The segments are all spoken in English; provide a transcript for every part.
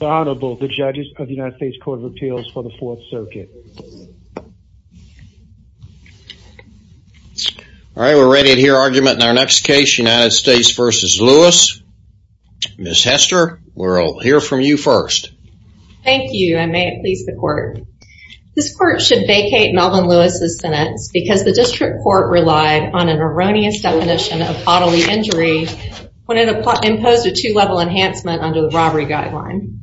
Honorable the judges of the United States Court of Appeals for the 4th Circuit. All right we're ready to hear argument in our next case United States v. Lewis. Ms. Hester we'll hear from you first. Thank you and may it please the court. This court should vacate Melvin Lewis's sentence because the district court relied on an erroneous definition of bodily injury when it imposed a two-level enhancement under the robbery guideline.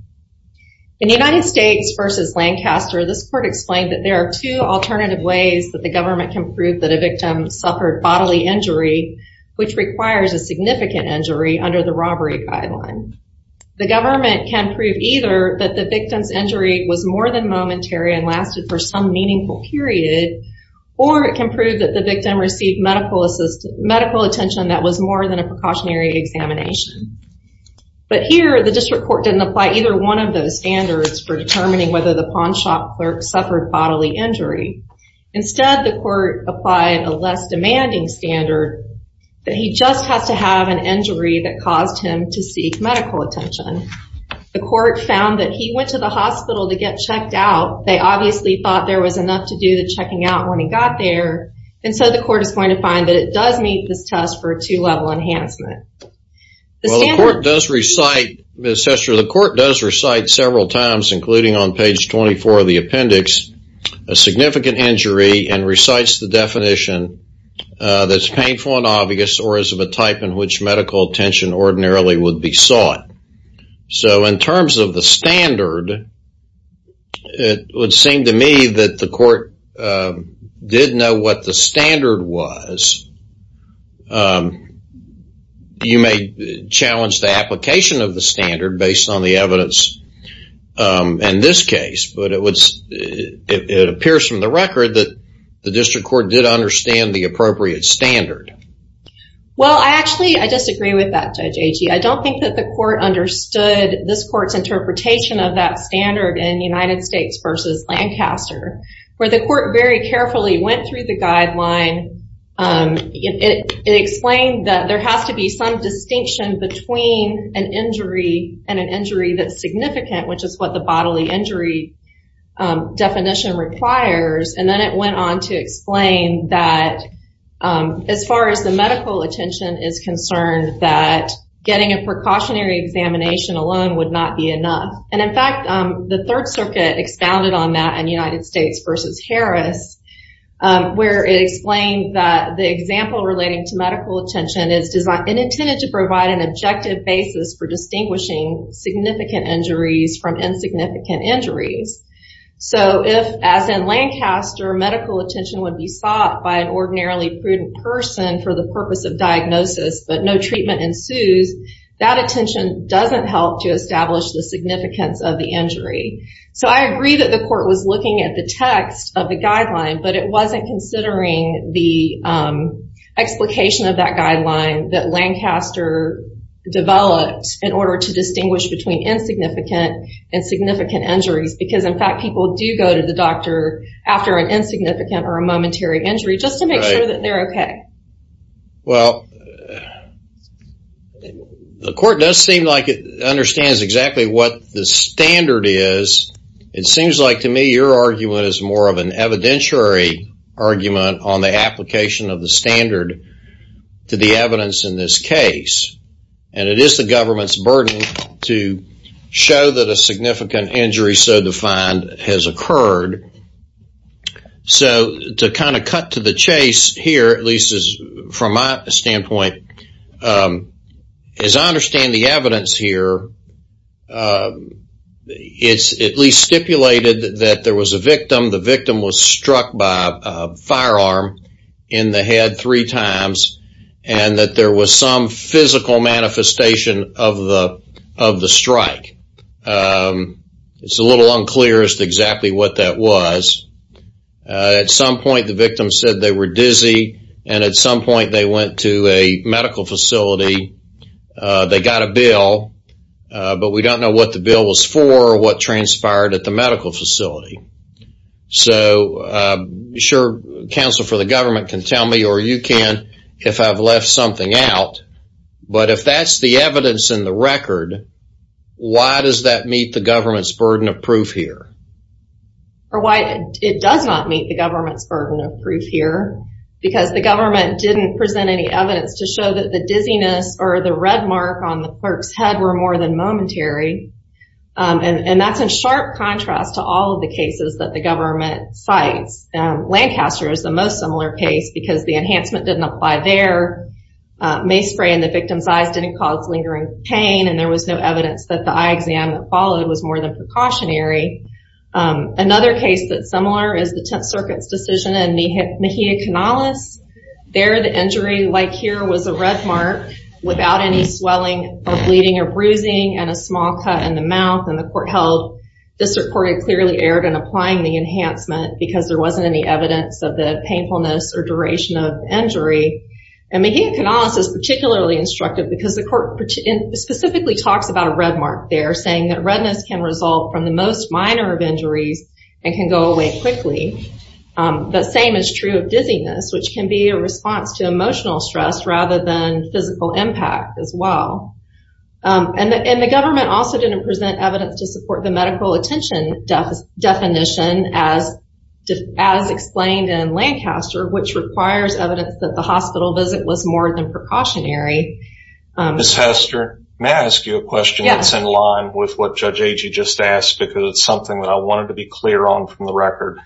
In the United States v. Lancaster this court explained that there are two alternative ways that the government can prove that a victim suffered bodily injury which requires a significant injury under the robbery guideline. The government can prove either that the victim's injury was more than momentary and lasted for some meaningful period or it can prove that the victim received medical attention that was more than a precautionary examination. But here the district court didn't apply either one of those standards for determining whether the pawnshop clerk suffered bodily injury. Instead the court applied a less demanding standard that he just has to have an injury that caused him to seek medical attention. The court found that he went to the hospital to get checked out. They obviously thought there was enough to do the checking out when got there and so the court is going to find that it does meet this test for a two-level enhancement. Well the court does recite, Ms. Hester, the court does recite several times including on page 24 of the appendix a significant injury and recites the definition that's painful and obvious or is of a type in which medical attention ordinarily would be sought. So in terms of the standard it would seem to me that the court did know what the standard was. You may challenge the application of the standard based on the evidence in this case but it would it appears from the record that the district court did understand the appropriate standard. Well I actually I disagree with that Judge Agee. I don't think that the court understood this court's interpretation of that standard in United States versus Lancaster where the court very carefully went through the guideline. It explained that there has to be some distinction between an injury and an injury that's significant which is what the bodily injury definition requires and then it went on to explain that as far as the medical attention is concerned that getting a precautionary examination alone would not be enough and in fact the Third Circuit expounded on that in United States versus Harris where it explained that the example relating to medical attention is designed and intended to provide an objective basis for distinguishing significant injuries from insignificant injuries. So if as in Lancaster medical attention would be sought by an ordinarily prudent person for the purpose of diagnosis but no treatment ensues that attention doesn't help to establish the significance of the injury. So I agree that the court was looking at the text of the guideline but it wasn't considering the explication of that guideline that Lancaster developed in order to distinguish between insignificant and significant injuries because in fact people do go to the doctor after an insignificant or a significant injury. The court does seem like it understands exactly what the standard is. It seems like to me your argument is more of an evidentiary argument on the application of the standard to the evidence in this case and it is the government's burden to show that a significant injury so defined has occurred. So to kind of cut to the chase here at least as from my as I understand the evidence here it's at least stipulated that there was a victim the victim was struck by firearm in the head three times and that there was some physical manifestation of the of the strike. It's a little unclear as to exactly what that was. At some point the victim said they were dizzy and at they got a bill but we don't know what the bill was for or what transpired at the medical facility. So sure counsel for the government can tell me or you can if I've left something out but if that's the evidence in the record why does that meet the government's burden of proof here? Or why it does not meet the government's burden of proof here because the government didn't present any However the red mark on the clerk's head were more than momentary and that's in sharp contrast to all the cases that the government cites. Lancaster is the most similar case because the enhancement didn't apply there. Mace spray in the victim's eyes didn't cause lingering pain and there was no evidence that the eye exam that followed was more than precautionary. Another case that's similar is the Tenth Circuit's decision in the Mejia Canales. There the injury like here was a red mark without any swelling or bleeding or bruising and a small cut in the mouth and the court held the circuit clearly erred in applying the enhancement because there wasn't any evidence of the painfulness or duration of injury. And Mejia Canales is particularly instructive because the court specifically talks about a red mark there saying that redness can result from the most minor of injuries and can go away quickly. The same is true of dizziness which can be a response to emotional stress rather than physical impact as well. And the government also didn't present evidence to support the medical attention definition as explained in Lancaster which requires evidence that the hospital visit was more than precautionary. Ms. Hester, may I ask you a question that's in line with what Judge Agee just asked because it's something that I wanted to be clear on from the record.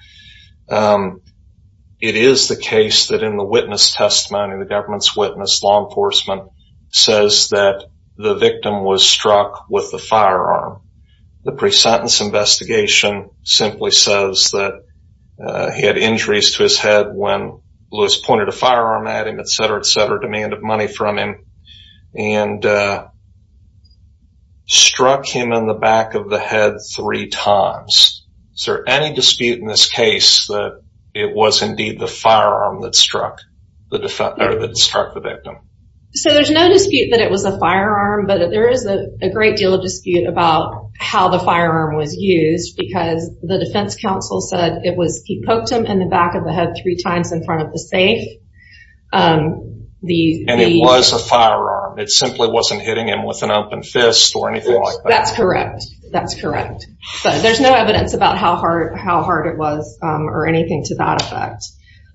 It is the case that in the witness testimony, the government's witness, law enforcement, says that the victim was struck with the firearm. The pre-sentence investigation simply says that he had injuries to his head when Lewis pointed a firearm at him etc. etc. demanded money from him and struck him in the back of the head three times. Is there any dispute in this case that it was indeed the firearm that struck the victim? So there's no dispute that it was a firearm but there is a great deal of dispute about how the firearm was used because the defense counsel said it was he poked him in the back of the head three times in front of the safe. And it was a firearm? It simply wasn't hitting him with an object. There's no evidence about how hard it was or anything to that effect.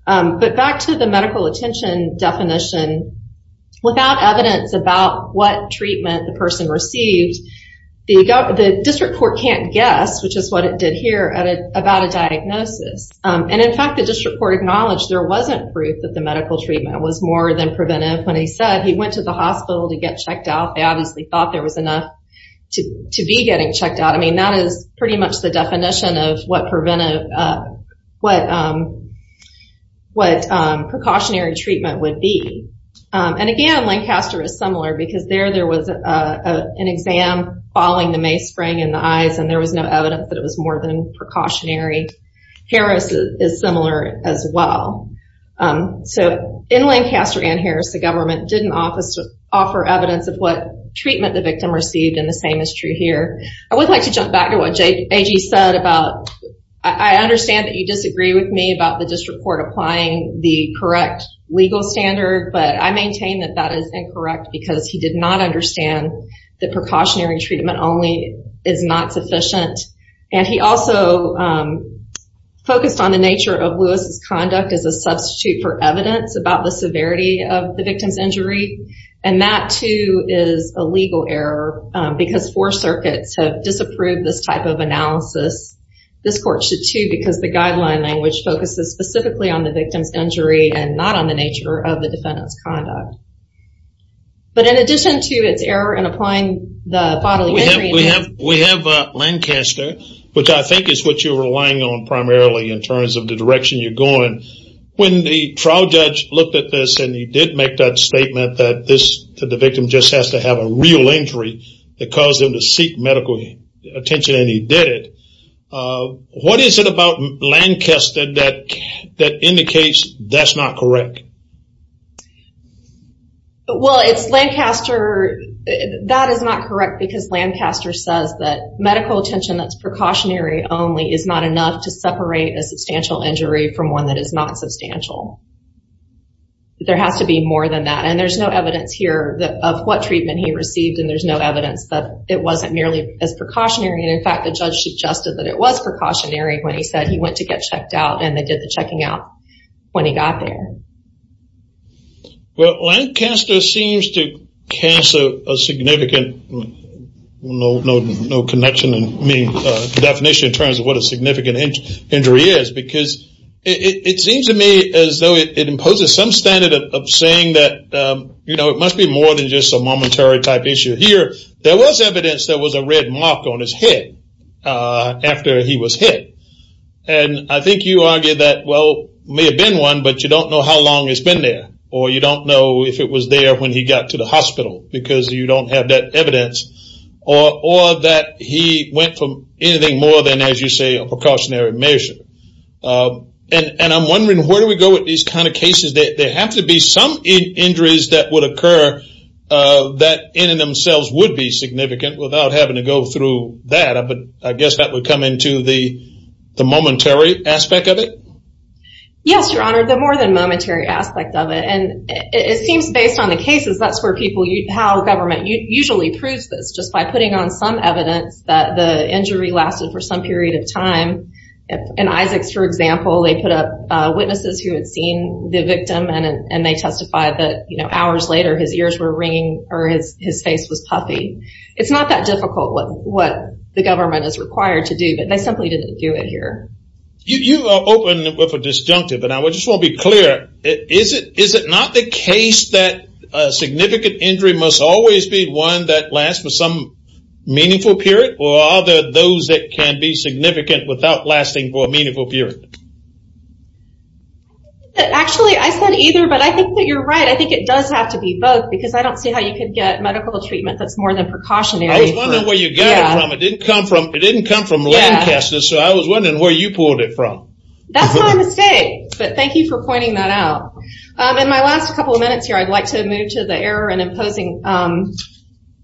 But back to the medical attention definition, without evidence about what treatment the person received, the district court can't guess, which is what it did here, about a diagnosis. And in fact the district court acknowledged there wasn't proof that the medical treatment was more than preventive. When he said he went to the hospital to get checked out, they obviously thought there was enough to be getting checked out. I mean that is pretty much the definition of what preventive, what precautionary treatment would be. And again Lancaster is similar because there there was an exam following the May spring in the eyes and there was no evidence that it was more than precautionary. Harris is similar as well. So in Lancaster and treatment the victim received and the same is true here. I would like to jump back to what AJ said about, I understand that you disagree with me about the district court applying the correct legal standard. But I maintain that that is incorrect because he did not understand that precautionary treatment only is not sufficient. And he also focused on the nature of Lewis's conduct as a substitute for evidence about the severity of the victim's injury. And that too is a legal error because four circuits have disapproved this type of analysis. This court should too because the guideline language focuses specifically on the victim's injury and not on the nature of the defendant's conduct. But in addition to its error in applying the bodily injury... We have Lancaster, which I think is what you're relying on primarily in terms of the direction you're going. When the trial judge looked at this and he did make that statement that this the victim just has to have a real injury that caused him to seek medical attention and he did it. What is it about Lancaster that indicates that's not correct? Well it's Lancaster, that is not correct because Lancaster says that medical attention that's precautionary only is not enough to separate a substantial injury from one that is not and there's no evidence here that of what treatment he received and there's no evidence that it wasn't nearly as precautionary and in fact the judge suggested that it was precautionary when he said he went to get checked out and they did the checking out when he got there. Well Lancaster seems to cast a significant... no connection and definition in terms of what a significant injury is because it seems to me as though it imposes some standard of saying that you know it must be more than just a momentary type issue. Here there was evidence there was a red mark on his head after he was hit and I think you argue that well may have been one but you don't know how long it's been there or you don't know if it was there when he got to the hospital because you don't have that evidence or that he went from anything more than as you say a precautionary measure and I'm wondering where do we go with these kind of cases they have to be some injuries that would occur that in and themselves would be significant without having to go through that but I guess that would come into the the momentary aspect of it? Yes your honor the more than momentary aspect of it and it seems based on the cases that's where people you how government usually proves this just by putting on some evidence that the injury lasted for some period of time and Isaacs for example they put up witnesses who had seen the victim and and they testified that you know hours later his ears were ringing or his his face was puffy it's not that difficult what what the government is required to do but they simply didn't do it here. You opened it with a disjunctive and I just want to be clear is it is it not the case that a significant injury must always be one that lasts for some meaningful period or are there those that can be significant without lasting for a meaningful period? Actually I said either but I think that you're right I think it does have to be both because I don't see how you could get medical treatment that's more than precautionary. I was wondering where you got it from. It didn't come from it didn't come from Lancaster so I was wondering where you pulled it from. That's my mistake but thank you for pointing that out. In my last couple of minutes here I'd like to move to the error and imposing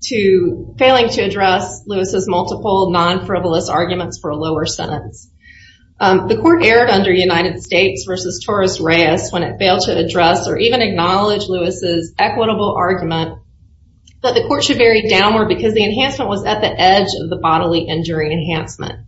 to failing to address Lewis's multiple non-frivolous arguments for a lower sentence. The court erred under United States versus Torres Reyes when it failed to address or even acknowledge Lewis's equitable argument that the court should vary downward because the enhancement was at the edge of the bodily injury enhancement.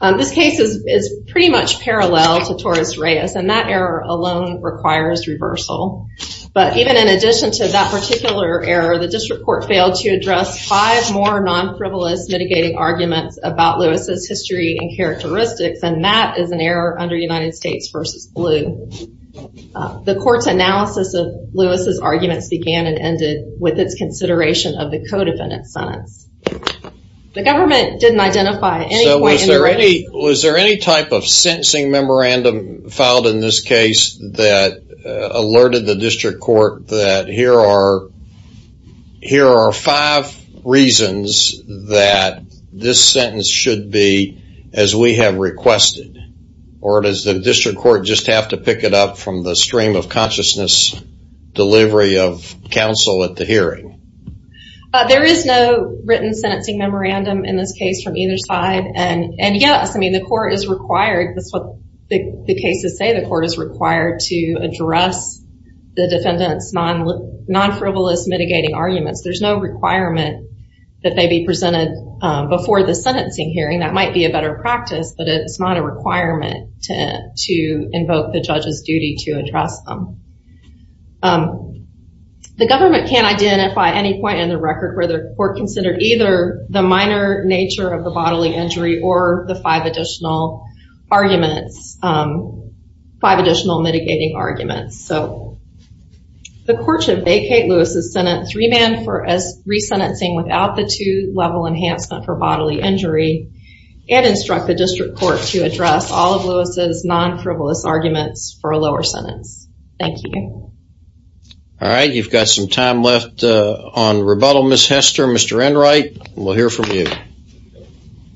This case is pretty much parallel to Torres Reyes and that error alone requires reversal but even in addition to that particular error the district court failed to address five more non-frivolous mitigating arguments about Lewis's history and characteristics and that is an error under United States versus blue. The court's analysis of Lewis's arguments began and ended with its consideration of the co-defendant sentence. The government didn't identify. So was there any type of sentencing memorandum filed in this case that alerted the district court that here are five reasons that this sentence should be as we have requested or does the district court just have to pick it up from the stream of consciousness delivery of counsel at the hearing? There is no written sentencing memorandum in this case from either side and and yes I mean the court is required that's what the cases say the court is required to address the defendants non-frivolous mitigating arguments there's no requirement that they be presented before the sentencing hearing that might be a better practice but it's not a requirement to to invoke the judge's duty to address them. The government can't identify any point in the record where the court considered either the minor nature of the bodily injury or the five additional arguments five All right you've got some time left on rebuttal Miss Hester. Mr. Enright we'll hear from you.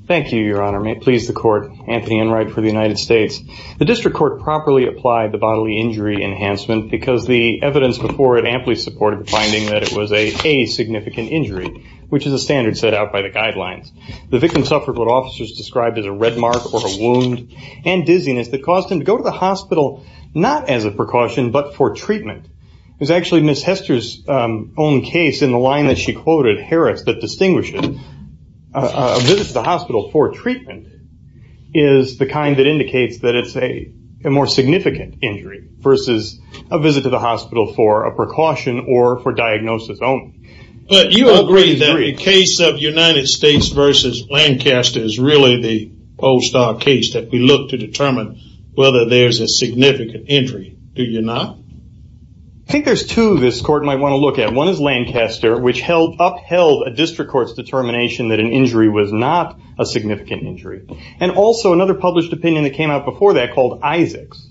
Thank you your honor may it please the court Anthony Enright for the United States. The district court properly applied the bodily injury enhancement because the evidence before it amply supported finding that it was a a significant injury which is a standard set out by the guidelines. The victim suffered what officers described as a red mark or a wound and dizziness that caused him to go to the hospital not as a precaution but for treatment. It was actually Miss Hester's own case in the line that she quoted Harris that distinguishes the hospital for treatment is the kind that indicates that it's a more significant injury versus a visit to the hospital for a precaution or for diagnosis only. But you agree that a case of United States versus Lancaster is really the all-star case that we look to determine whether there's a significant injury do you not? I think there's two this court might want to look at one is Lancaster which held upheld a district courts determination that an injury was not a significant injury and also another published opinion that came out before that called Isaacs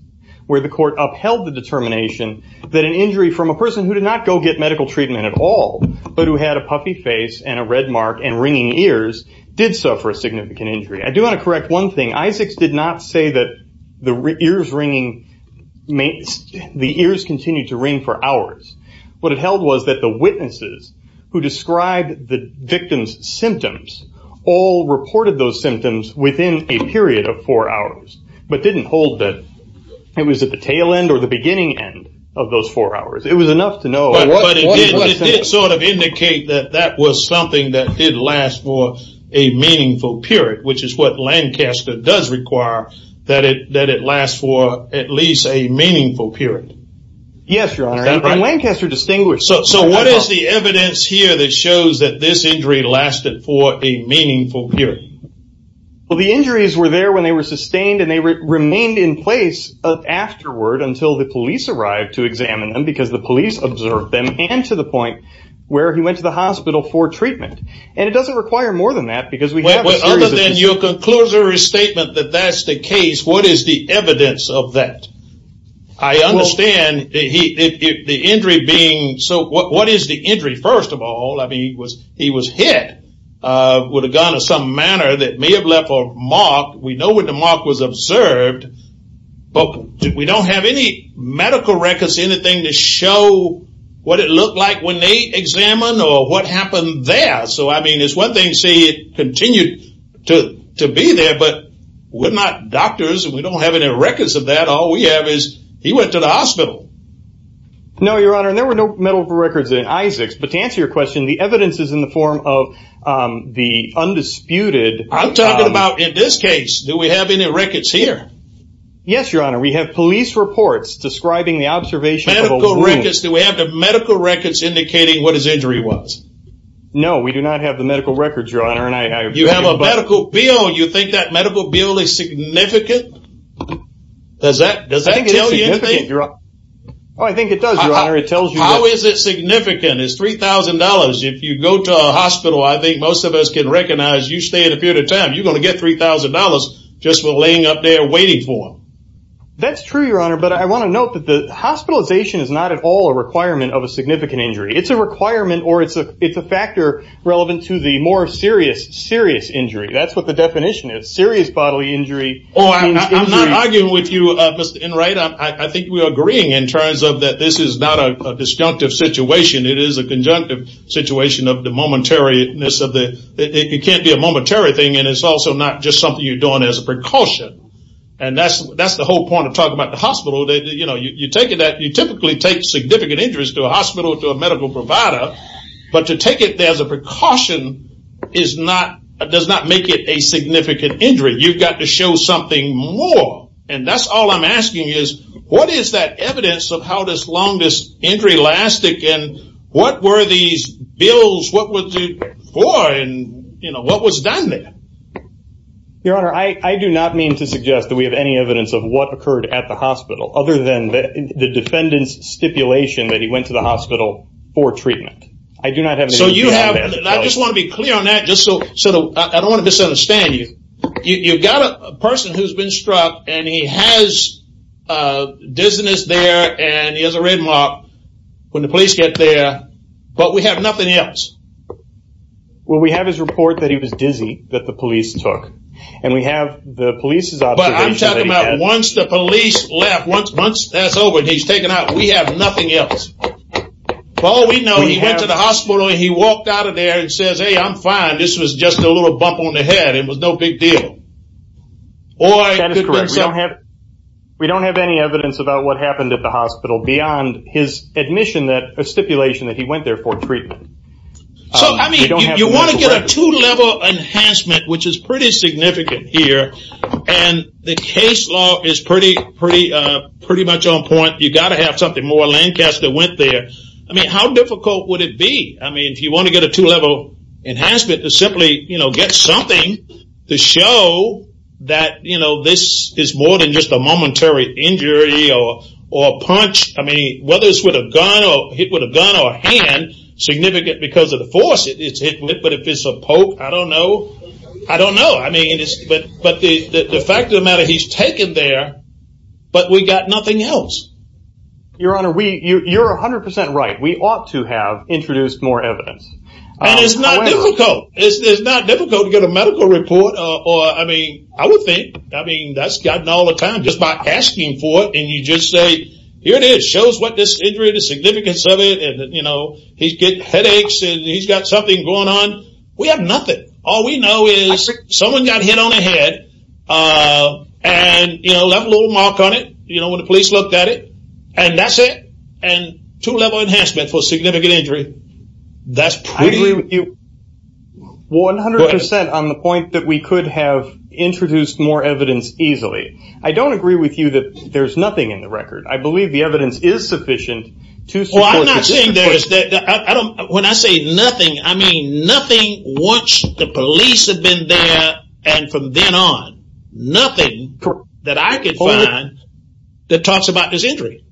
where the court upheld the determination that an injury from a person who did not go get medical treatment at all but who had a puffy face and a red mark and ringing ears did suffer a significant injury. I do want to correct one thing Isaacs did not say that the ears ringing, the ears continued to ring for hours. What it held was that the witnesses who described the it didn't hold that it was at the tail end or the beginning of those four hours it was enough to know. But it did sort of indicate that that was something that did last for a meaningful period which is what Lancaster does require that it lasts for at least a meaningful period. Yes your honor and Lancaster distinguished. So what is the evidence here that shows that this injury lasted for a meaningful period? Well the injuries were there when they were sustained and they remained in place afterward until the police arrived to examine them because the police observed them and to the point where he went to the hospital for treatment and it doesn't require more than that because we have a series of... Other than your conclusory statement that that's the case what is the evidence of that? I understand the injury being so what is the injury first of all I mean he was hit with a gun of some manner that may have left a mark we know when the mark was observed but we don't have any medical records anything to show what it looked like when they examined or what happened there so I mean it's one thing to say it continued to to be there but we're not doctors and we don't have any records of that all we have is he went to the hospital. No your evidence is in the form of the undisputed I'm talking about in this case do we have any records here? Yes your honor we have police reports describing the observation. Medical records do we have the medical records indicating what his injury was? No we do not have the medical records your honor and you have a medical bill you think that medical bill is significant? Does that does that tell you anything? I think it does your honor. How is it significant is $3,000 if you go to a hospital I think most of us can recognize you stay in a period of time you're going to get $3,000 just for laying up there waiting for him. That's true your honor but I want to note that the hospitalization is not at all a requirement of a significant injury it's a requirement or it's a it's a factor relevant to the more serious serious injury that's what the definition is serious bodily injury. I'm not arguing with you Mr. Enright I think we are agreeing in terms of that this is not a disjunctive situation it is a conjunctive situation of the momentary this of the it can't be a momentary thing and it's also not just something you're doing as a precaution and that's that's the whole point of talking about the hospital that you know you take it that you typically take significant injuries to a hospital to a medical provider but to take it there as a precaution is not does not make it a significant injury you've got to show something more and that's all I'm asking is what is that evidence of how this long this injury lasted and what were these bills what was it for and you know what was done there your honor I I do not mean to suggest that we have any evidence of what occurred at the hospital other than the defendant's stipulation that he went to the hospital for treatment I do not have so you have and I just want to be clear on that just so so I don't want to misunderstand you you've got a person who's been struck and he has dizziness there and he has a headlock when the police get there but we have nothing else well we have his report that he was dizzy that the police took and we have the police's observation once the police left once months that's over he's taken out we have nothing else well we know he went to the hospital he walked out of there and says hey I'm fine this was just a little bump on the head it was no big deal or I don't have we don't have any evidence about what happened at the his admission that a stipulation that he went there for treatment so I mean you want to get a two-level enhancement which is pretty significant here and the case law is pretty pretty pretty much on point you got to have something more Lancaster went there I mean how difficult would it be I mean if you want to get a two-level enhancement to simply you know get something to show that you know this is more than just a momentary injury or or punch I mean whether it's with a gun or hit with a gun or hand significant because of the force it's hit with but if it's a poke I don't know I don't know I mean it's but but the fact of the matter he's taken there but we got nothing else your honor we you you're a hundred percent right we ought to have introduced more evidence it's not difficult it's not difficult to get a medical report or I mean I would think I mean that's gotten all the time just by asking for it and you just say here it is shows what this injury the significance of it and you know he's getting headaches and he's got something going on we have nothing all we know is someone got hit on the head and you know left a little mark on it you know when the police looked at it and that's it and two-level enhancement for significant injury that's pretty you 100% on the point that we could have introduced more evidence easily I don't agree with you that there's nothing in the record I believe the evidence is sufficient to when I say nothing I mean nothing once the police have been there and from then on nothing that I could find that talks about this injury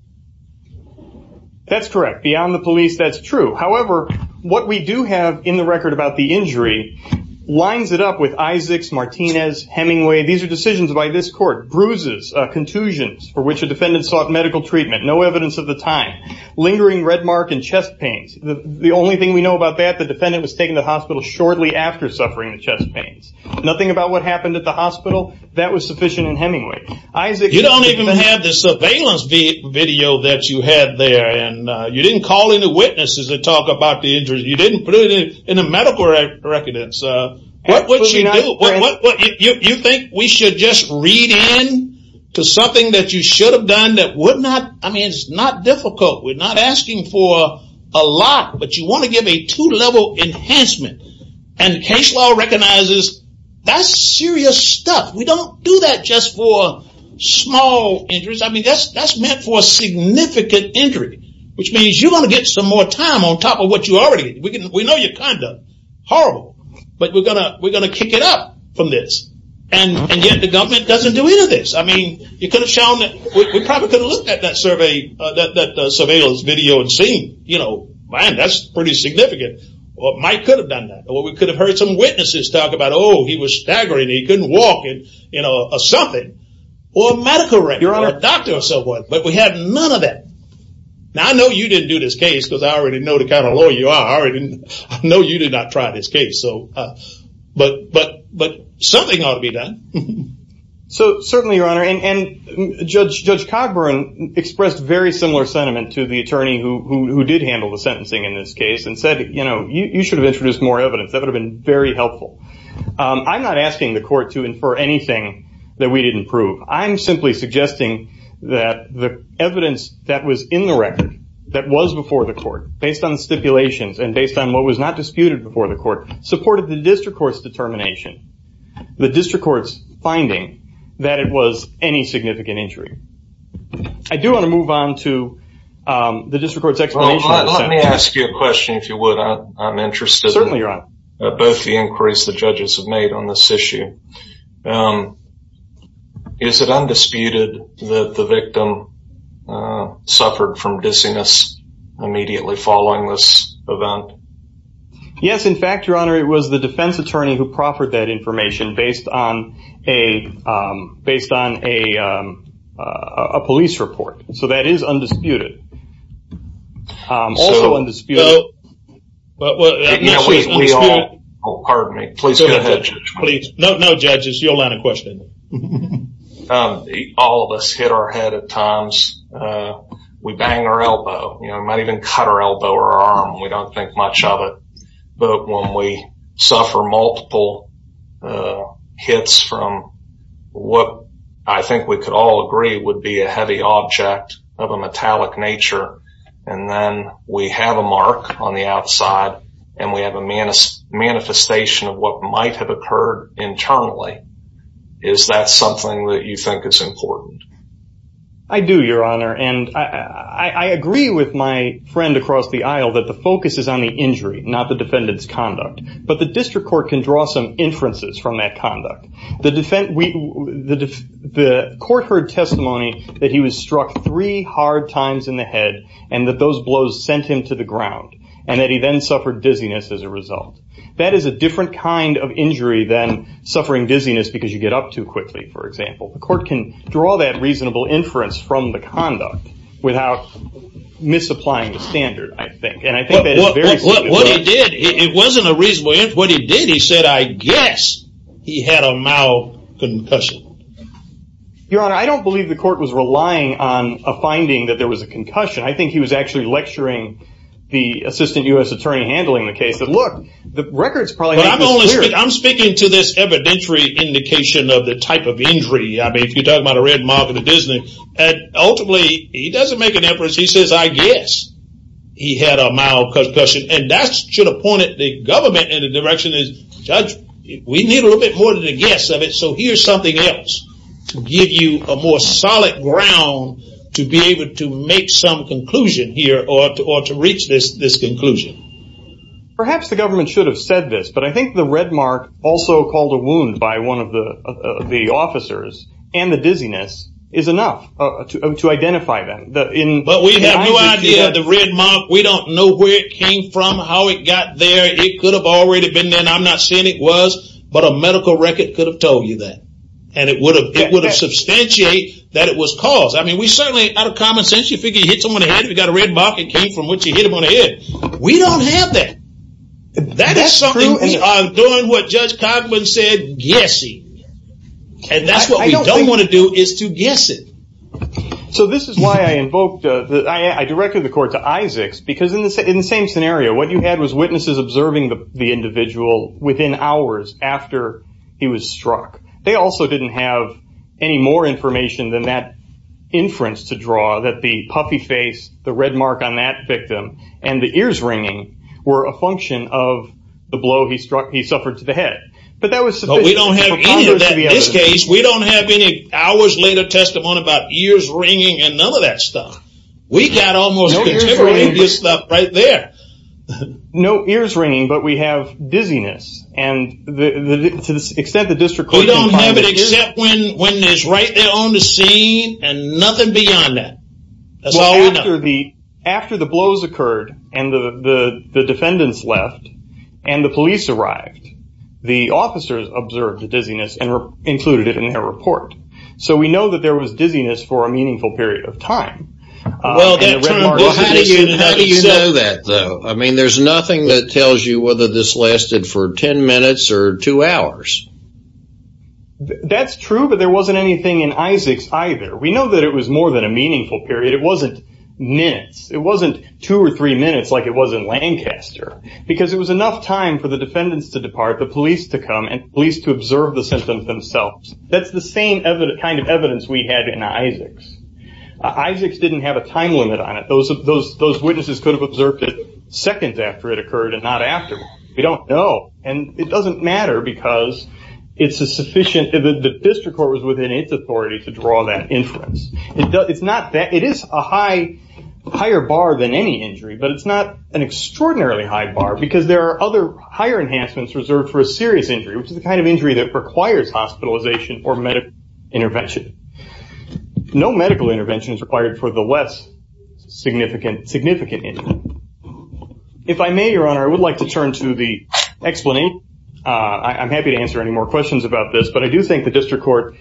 that's correct beyond the police that's true however what we do have in the record about the injury lines it up with Isaacs Martinez Hemingway these are decisions by this court bruises contusions for which a defendant sought medical treatment no evidence of the time lingering red mark and chest pains the only thing we know about that the defendant was taken to hospital shortly after suffering chest pains nothing about what happened at the hospital that was sufficient in Hemingway Isaac you don't even have the surveillance video that you had there and you didn't call in the witnesses to talk about the injury you didn't put it in a medical record and so what would you think we should just read in to something that you should have done that would not I mean it's not difficult we're not asking for a lot but you want to give a two-level enhancement and case law recognizes that's serious stuff we don't do that just for small injuries I mean that's that's meant for a significant injury which means you want to get some more time on top of what you already we know you're kind of horrible but we're gonna we're gonna kick it up from this and yet the government doesn't do any of this I mean you could have shown that we probably could have looked at that survey that surveillance video and seen you know man that's pretty significant what might could have done that well we could have heard some witnesses talk about oh he was staggering he couldn't walk it you know something or medical record or a doctor or someone but we have none of that now I know you didn't do this case because I already know the kind of lawyer you are and no you did not try this case so but but but something ought to be done so certainly your honor and judge judge Cogburn expressed very similar sentiment to the attorney who did handle the sentencing in this case and said you know you should have introduced more evidence that would have been very helpful I'm not asking the court to infer anything that we didn't prove I'm simply suggesting that the evidence that was in the record that was before the court based on stipulations and based on what was not disputed before the court supported the district courts determination the district courts finding that it was any significant injury I do want to move on to the district courts explanation let me ask you a question if you would I'm interested certainly you're on both the inquiries the judges have made on this issue is it undisputed that the victim suffered from dizziness immediately following this event yes in fact your honor it was the defense attorney who proffered that information based on a based on a police report so that is undisputed no judges you'll land a question all of us hit our head at times we bang our elbow you know I might even cut our elbow or arm we don't think much of it but when we suffer multiple hits from what I think we could all agree would be a heavy object of a metallic nature and then we have a mark on the outside and we have a man is manifestation of what might have occurred internally is that something that you think is important I do your honor and I agree with my friend across the aisle that the focus is on the injury not the defendants conduct but the district court can draw some inferences from that conduct the defense the court heard testimony that he was struck three hard times in the head and that those blows sent him to the ground and that he then suffered dizziness as a result that is a different kind of injury than suffering dizziness because you get up too quickly for example the court can draw that reasonable inference from the conduct without misapplying the standard I think and I think it wasn't a reasonable inference what he did he said I guess he had a mild concussion your honor I don't believe the court was relying on a finding that there was a concussion I think he was actually lecturing the assistant US attorney handling the case that look the records probably I'm speaking to this evidentiary indication of the type of injury I mean if you talk about a red mark of the Disney and ultimately he doesn't make an inference he says I guess he had a mild concussion and that's should have pointed the government in the direction is judge we need a little bit more than a guess of it so here's something else to give you a more solid ground to be able to make some conclusion here or to ought to reach this this conclusion perhaps the government should have said this but I think the red mark also called a wound by one of the the officers and the dizziness is enough to identify them in but we have no idea the red mark we don't know where it came from how it got there it could have already been there and I'm not saying it was but a medical record could have told you that and it would have it would have substantiate that it was caused I mean we certainly out of common sense you figure you hit someone ahead we got a red mark it came from what you hit him on the head we don't have that that is something I'm doing what judge Cogman said guessing and that's what I don't want to do is to guess it so this is why I invoked that I directed the court to Isaac's because in the same scenario what you had was witnesses observing the individual within hours after he was struck they also didn't have any more information than that inference to draw that the puffy face the red mark on that victim and the ears ringing were a function of the blow he struck he suffered to the head but that was so we don't have any of that in this case we don't have any hours later testimony about years ringing and none of that stuff we got almost no ears ringing but we have dizziness and the extent the district we don't have it except when when there's right there on the scene and nothing beyond that that's all we know after the blows occurred and the defendants left and the police arrived the officers observed the dizziness and included it in their report so we know that there was dizziness for a meaningful period of time I mean there's nothing that tells you whether this lasted for 10 minutes or two hours that's true but there wasn't anything in Isaac's either we know that it was more than a meaningful period it wasn't minutes it wasn't two or three minutes like it was in Lancaster because it was enough time for the defendants to depart the police to come and police to observe the symptoms themselves that's the same evidence kind of evidence we had in Isaac's Isaac's didn't have a time limit on it those of those those witnesses could have observed it seconds after it occurred and not after we don't know and it doesn't matter because it's a sufficient the district court was within its authority to draw that inference it's not that it is a high higher bar than any injury but it's not an extraordinarily high bar because there are other higher enhancements reserved for a serious injury which is the kind of injury that requires hospitalization or medical intervention no medical intervention is required for the less significant significant if I may your honor I would like to turn to the explain I'm happy to answer any more questions about this but I do think the clear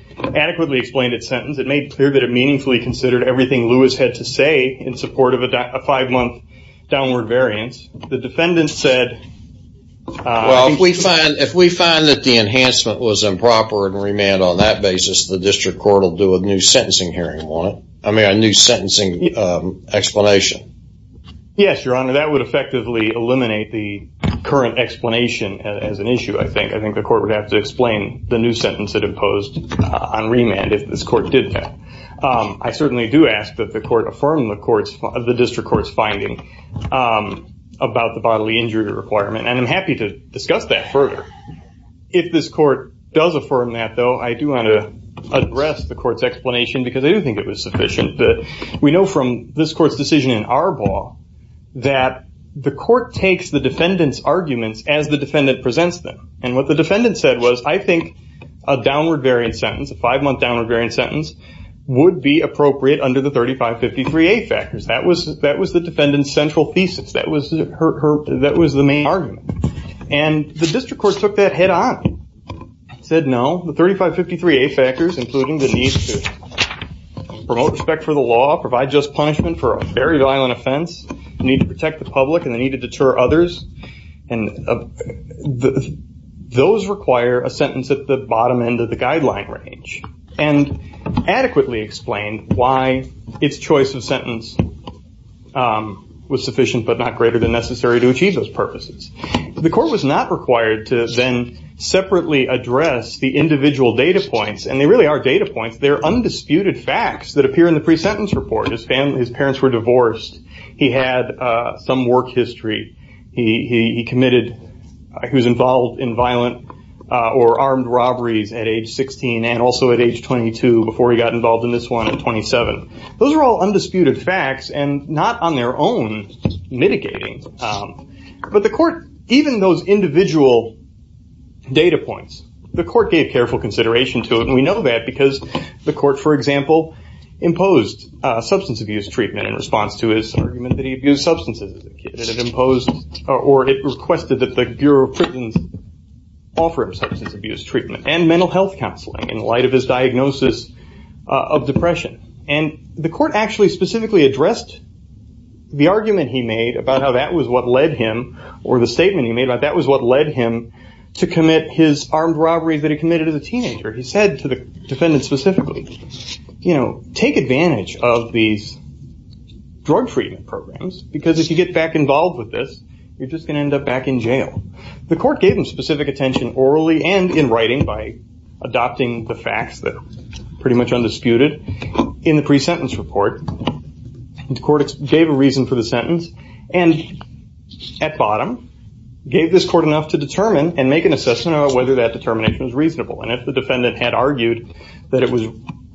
that it meaningfully considered everything Lewis had to say in support of a five-month downward variance the defendant said well we find if we find that the enhancement was improper and remand on that basis the district court will do a new sentencing hearing on it I mean a new sentencing explanation yes your honor that would effectively eliminate the current explanation as an issue I think I think the court would have to explain the new sentence that was proposed on remand if this court did that I certainly do ask that the court affirm the courts of the district courts finding about the bodily injury requirement and I'm happy to discuss that further if this court does affirm that though I do want to address the court's explanation because I do think it was sufficient that we know from this court's decision in our ball that the court takes the defendants arguments as the defendant presents them and what the five-month downward variance sentence would be appropriate under the 3553A factors that was that was the defendants central thesis that was her that was the main argument and the district court took that head-on said no the 3553A factors including the need to respect for the law provide just punishment for a very violent offense need to protect the public and they need to deter others and those require a sentence at the bottom end of the guideline range and adequately explained why its choice of sentence was sufficient but not greater than necessary to achieve those purposes the court was not required to then separately address the individual data points and they really are data points they're undisputed facts that appear in the pre-sentence report his family his work history he committed he was involved in violent or armed robberies at age 16 and also at age 22 before he got involved in this one at 27 those are all undisputed facts and not on their own mitigating but the court even those individual data points the court gave careful consideration to it and we know that because the court for example imposed substance abuse treatment in imposed or it requested that the Bureau of Prisons offer substance abuse treatment and mental health counseling in light of his diagnosis of depression and the court actually specifically addressed the argument he made about how that was what led him or the statement he made about that was what led him to commit his armed robberies that he committed as a teenager he said to the defendant specifically you know take advantage of these drug treatment programs because if you get back involved with this you're just gonna end up back in jail the court gave him specific attention orally and in writing by adopting the facts that are pretty much undisputed in the pre-sentence report the court gave a reason for the sentence and at bottom gave this court enough to determine and make an assessment about whether that determination is reasonable and if the defendant had argued that it was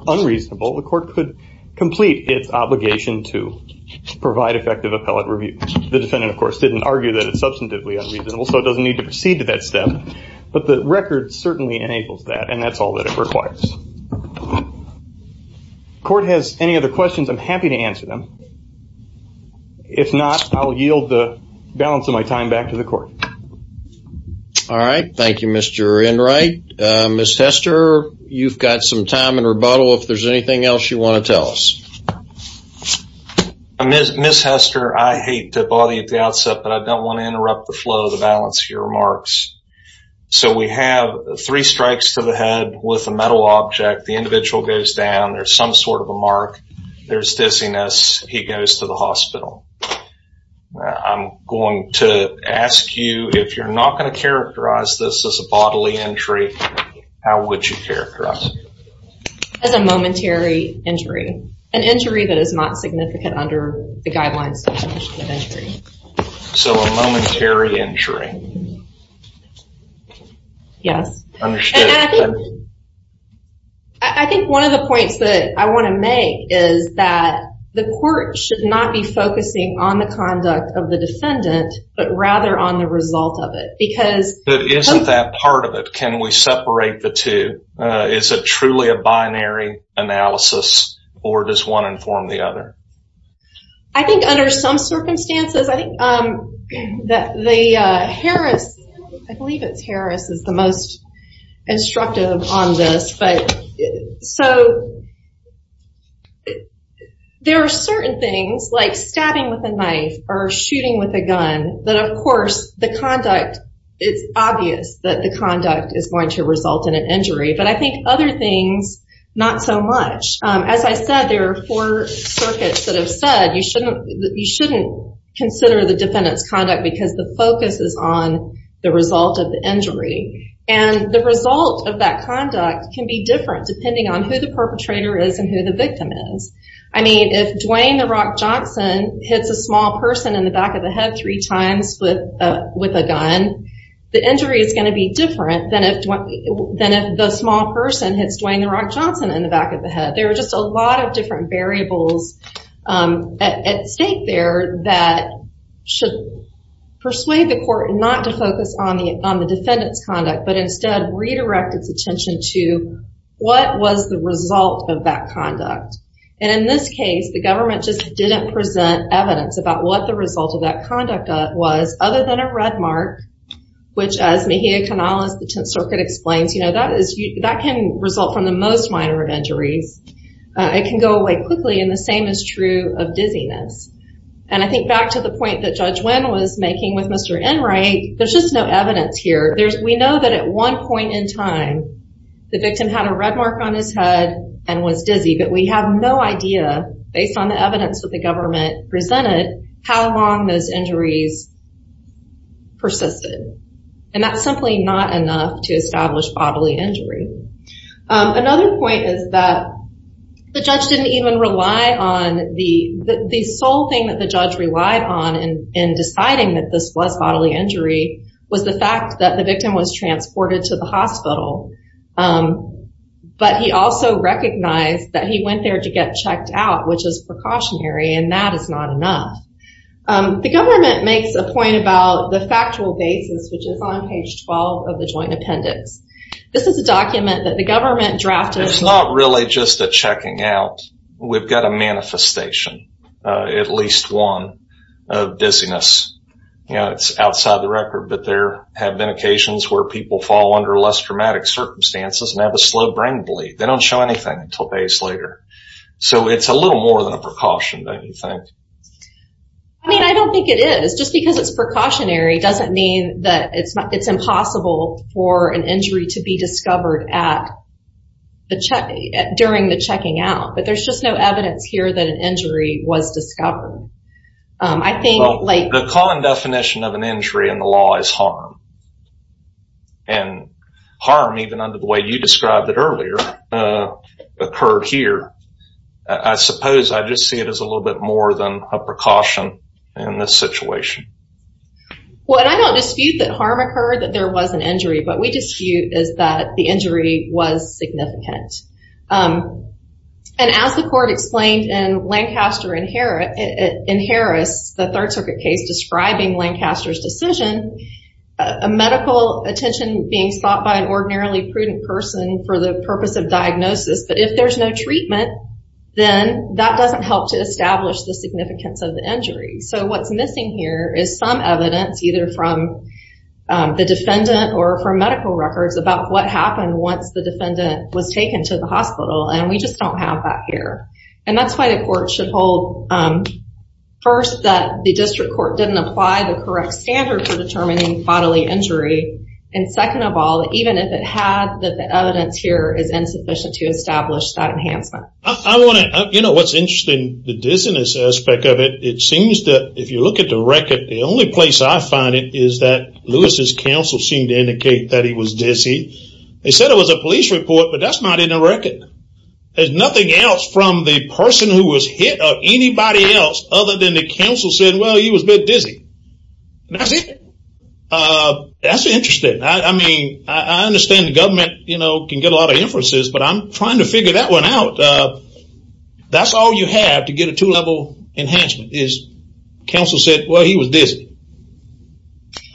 unreasonable the court could complete its obligation to provide effective appellate review the defendant of course didn't argue that it's substantively unreasonable so it doesn't need to proceed to that step but the record certainly enables that and that's all that it requires court has any other questions I'm happy to answer them if not I'll yield the balance of my time back to the court all right thank you mr. in right miss Hester you've got some time and rebuttal if there's anything else you want to tell us I miss miss Hester I hate to bother you at the outset but I don't want to interrupt the flow of the balance of your remarks so we have three strikes to the head with a metal object the individual goes down there's some sort of a mark there's dizziness he goes to the hospital I'm going to ask you if you're not going to as a momentary injury an injury that is not significant under the guidelines so a momentary injury yes I think one of the points that I want to make is that the court should not be focusing on the conduct of the defendant but rather on the result of it because it isn't that part of it can we separate the two is a truly a binary analysis or does one inform the other I think under some circumstances I think that the Harris I believe it's Harris is the most instructive on this but so there are certain things like stabbing with a knife or shooting with a gun that of course the conduct it's obvious that the things not so much as I said there are four circuits that have said you shouldn't you shouldn't consider the defendants conduct because the focus is on the result of the injury and the result of that conduct can be different depending on who the perpetrator is and who the victim is I mean if Dwayne the Rock Johnson hits a small person in the back of the head three times with with a gun the injury is going to be different than if what then if the small person hits Dwayne the Rock Johnson in the back of the head there were just a lot of different variables at stake there that should persuade the court not to focus on the on the defendants conduct but instead redirect its attention to what was the result of that conduct and in this case the government just didn't present evidence about what the result of that conduct was other than a red mark which as Mejia Canales the Tenth Circuit explains you know that is that can result from the most minor of injuries it can go away quickly and the same is true of dizziness and I think back to the point that Judge Wynn was making with Mr. Enright there's just no evidence here there's we know that at one point in time the victim had a red mark on his head and was dizzy but we have no idea based on the evidence that the government presented how long those and that's simply not enough to establish bodily injury another point is that the judge didn't even rely on the the sole thing that the judge relied on and in deciding that this was bodily injury was the fact that the victim was transported to the hospital but he also recognized that he went there to get checked out which is precautionary and that is not enough the government makes a point about the factual basis which is on page 12 of the joint appendix this is a document that the government drafted it's not really just a checking out we've got a manifestation at least one of dizziness you know it's outside the record but there have been occasions where people fall under less dramatic circumstances and have a slow brain bleed they don't show anything until days later so it's a little more than a precaution don't you think I mean I it's precautionary doesn't mean that it's not it's impossible for an injury to be discovered at the check during the checking out but there's just no evidence here that an injury was discovered I think like the common definition of an injury in the law is harm and harm even under the way you described it earlier occurred here I suppose I just see it as a little bit more than a precaution in this situation what I don't dispute that harm occurred that there was an injury but we dispute is that the injury was significant and as the court explained in Lancaster inherent in Harris the Third Circuit case describing Lancaster's decision a medical attention being stopped by an ordinarily prudent person for the purpose of diagnosis but if there's no treatment then that doesn't help to establish the significance of the injury so what's missing here is some evidence either from the defendant or for medical records about what happened once the defendant was taken to the hospital and we just don't have that here and that's why the court should hold first that the district court didn't apply the correct standard for determining bodily injury and second of all even if it had that evidence here is insufficient to establish that enhancement I want to you know what's interesting the dissonance aspect of it it seems that if you look at the record the only place I find it is that Lewis's counsel seemed to indicate that he was dizzy they said it was a police report but that's not in a record there's nothing else from the person who was hit or anybody else other than the council said well he was a bit dizzy that's it that's interesting I mean I understand the government you know can get a lot of inferences but I'm trying to figure that one out that's all you have to get a two-level enhancement is counsel said well he was dizzy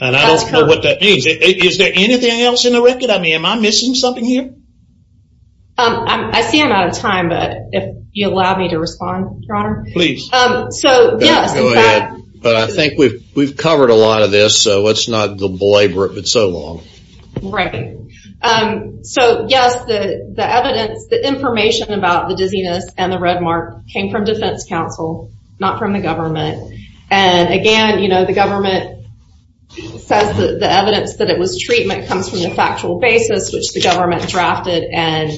and I don't know what that means is there anything else in the record I mean am I missing something here I see I'm out of time but if you allow me to respond please but I think we've we've all right so yes the the evidence the information about the dizziness and the red mark came from defense counsel not from the government and again you know the government says the evidence that it was treatment comes from the factual basis which the government drafted and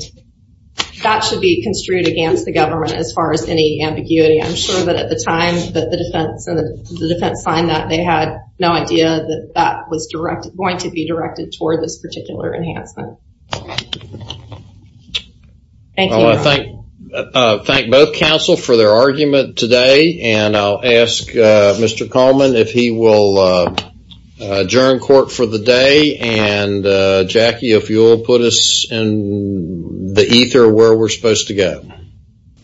that should be construed against the government as far as any ambiguity I'm sure that at the time that the defense and the defense signed that they had no idea that that was directed going to be directed toward this particular enhancement I think thank both counsel for their argument today and I'll ask mr. Coleman if he will adjourn court for the day and Jackie if you'll put us in the ether where we're supposed to go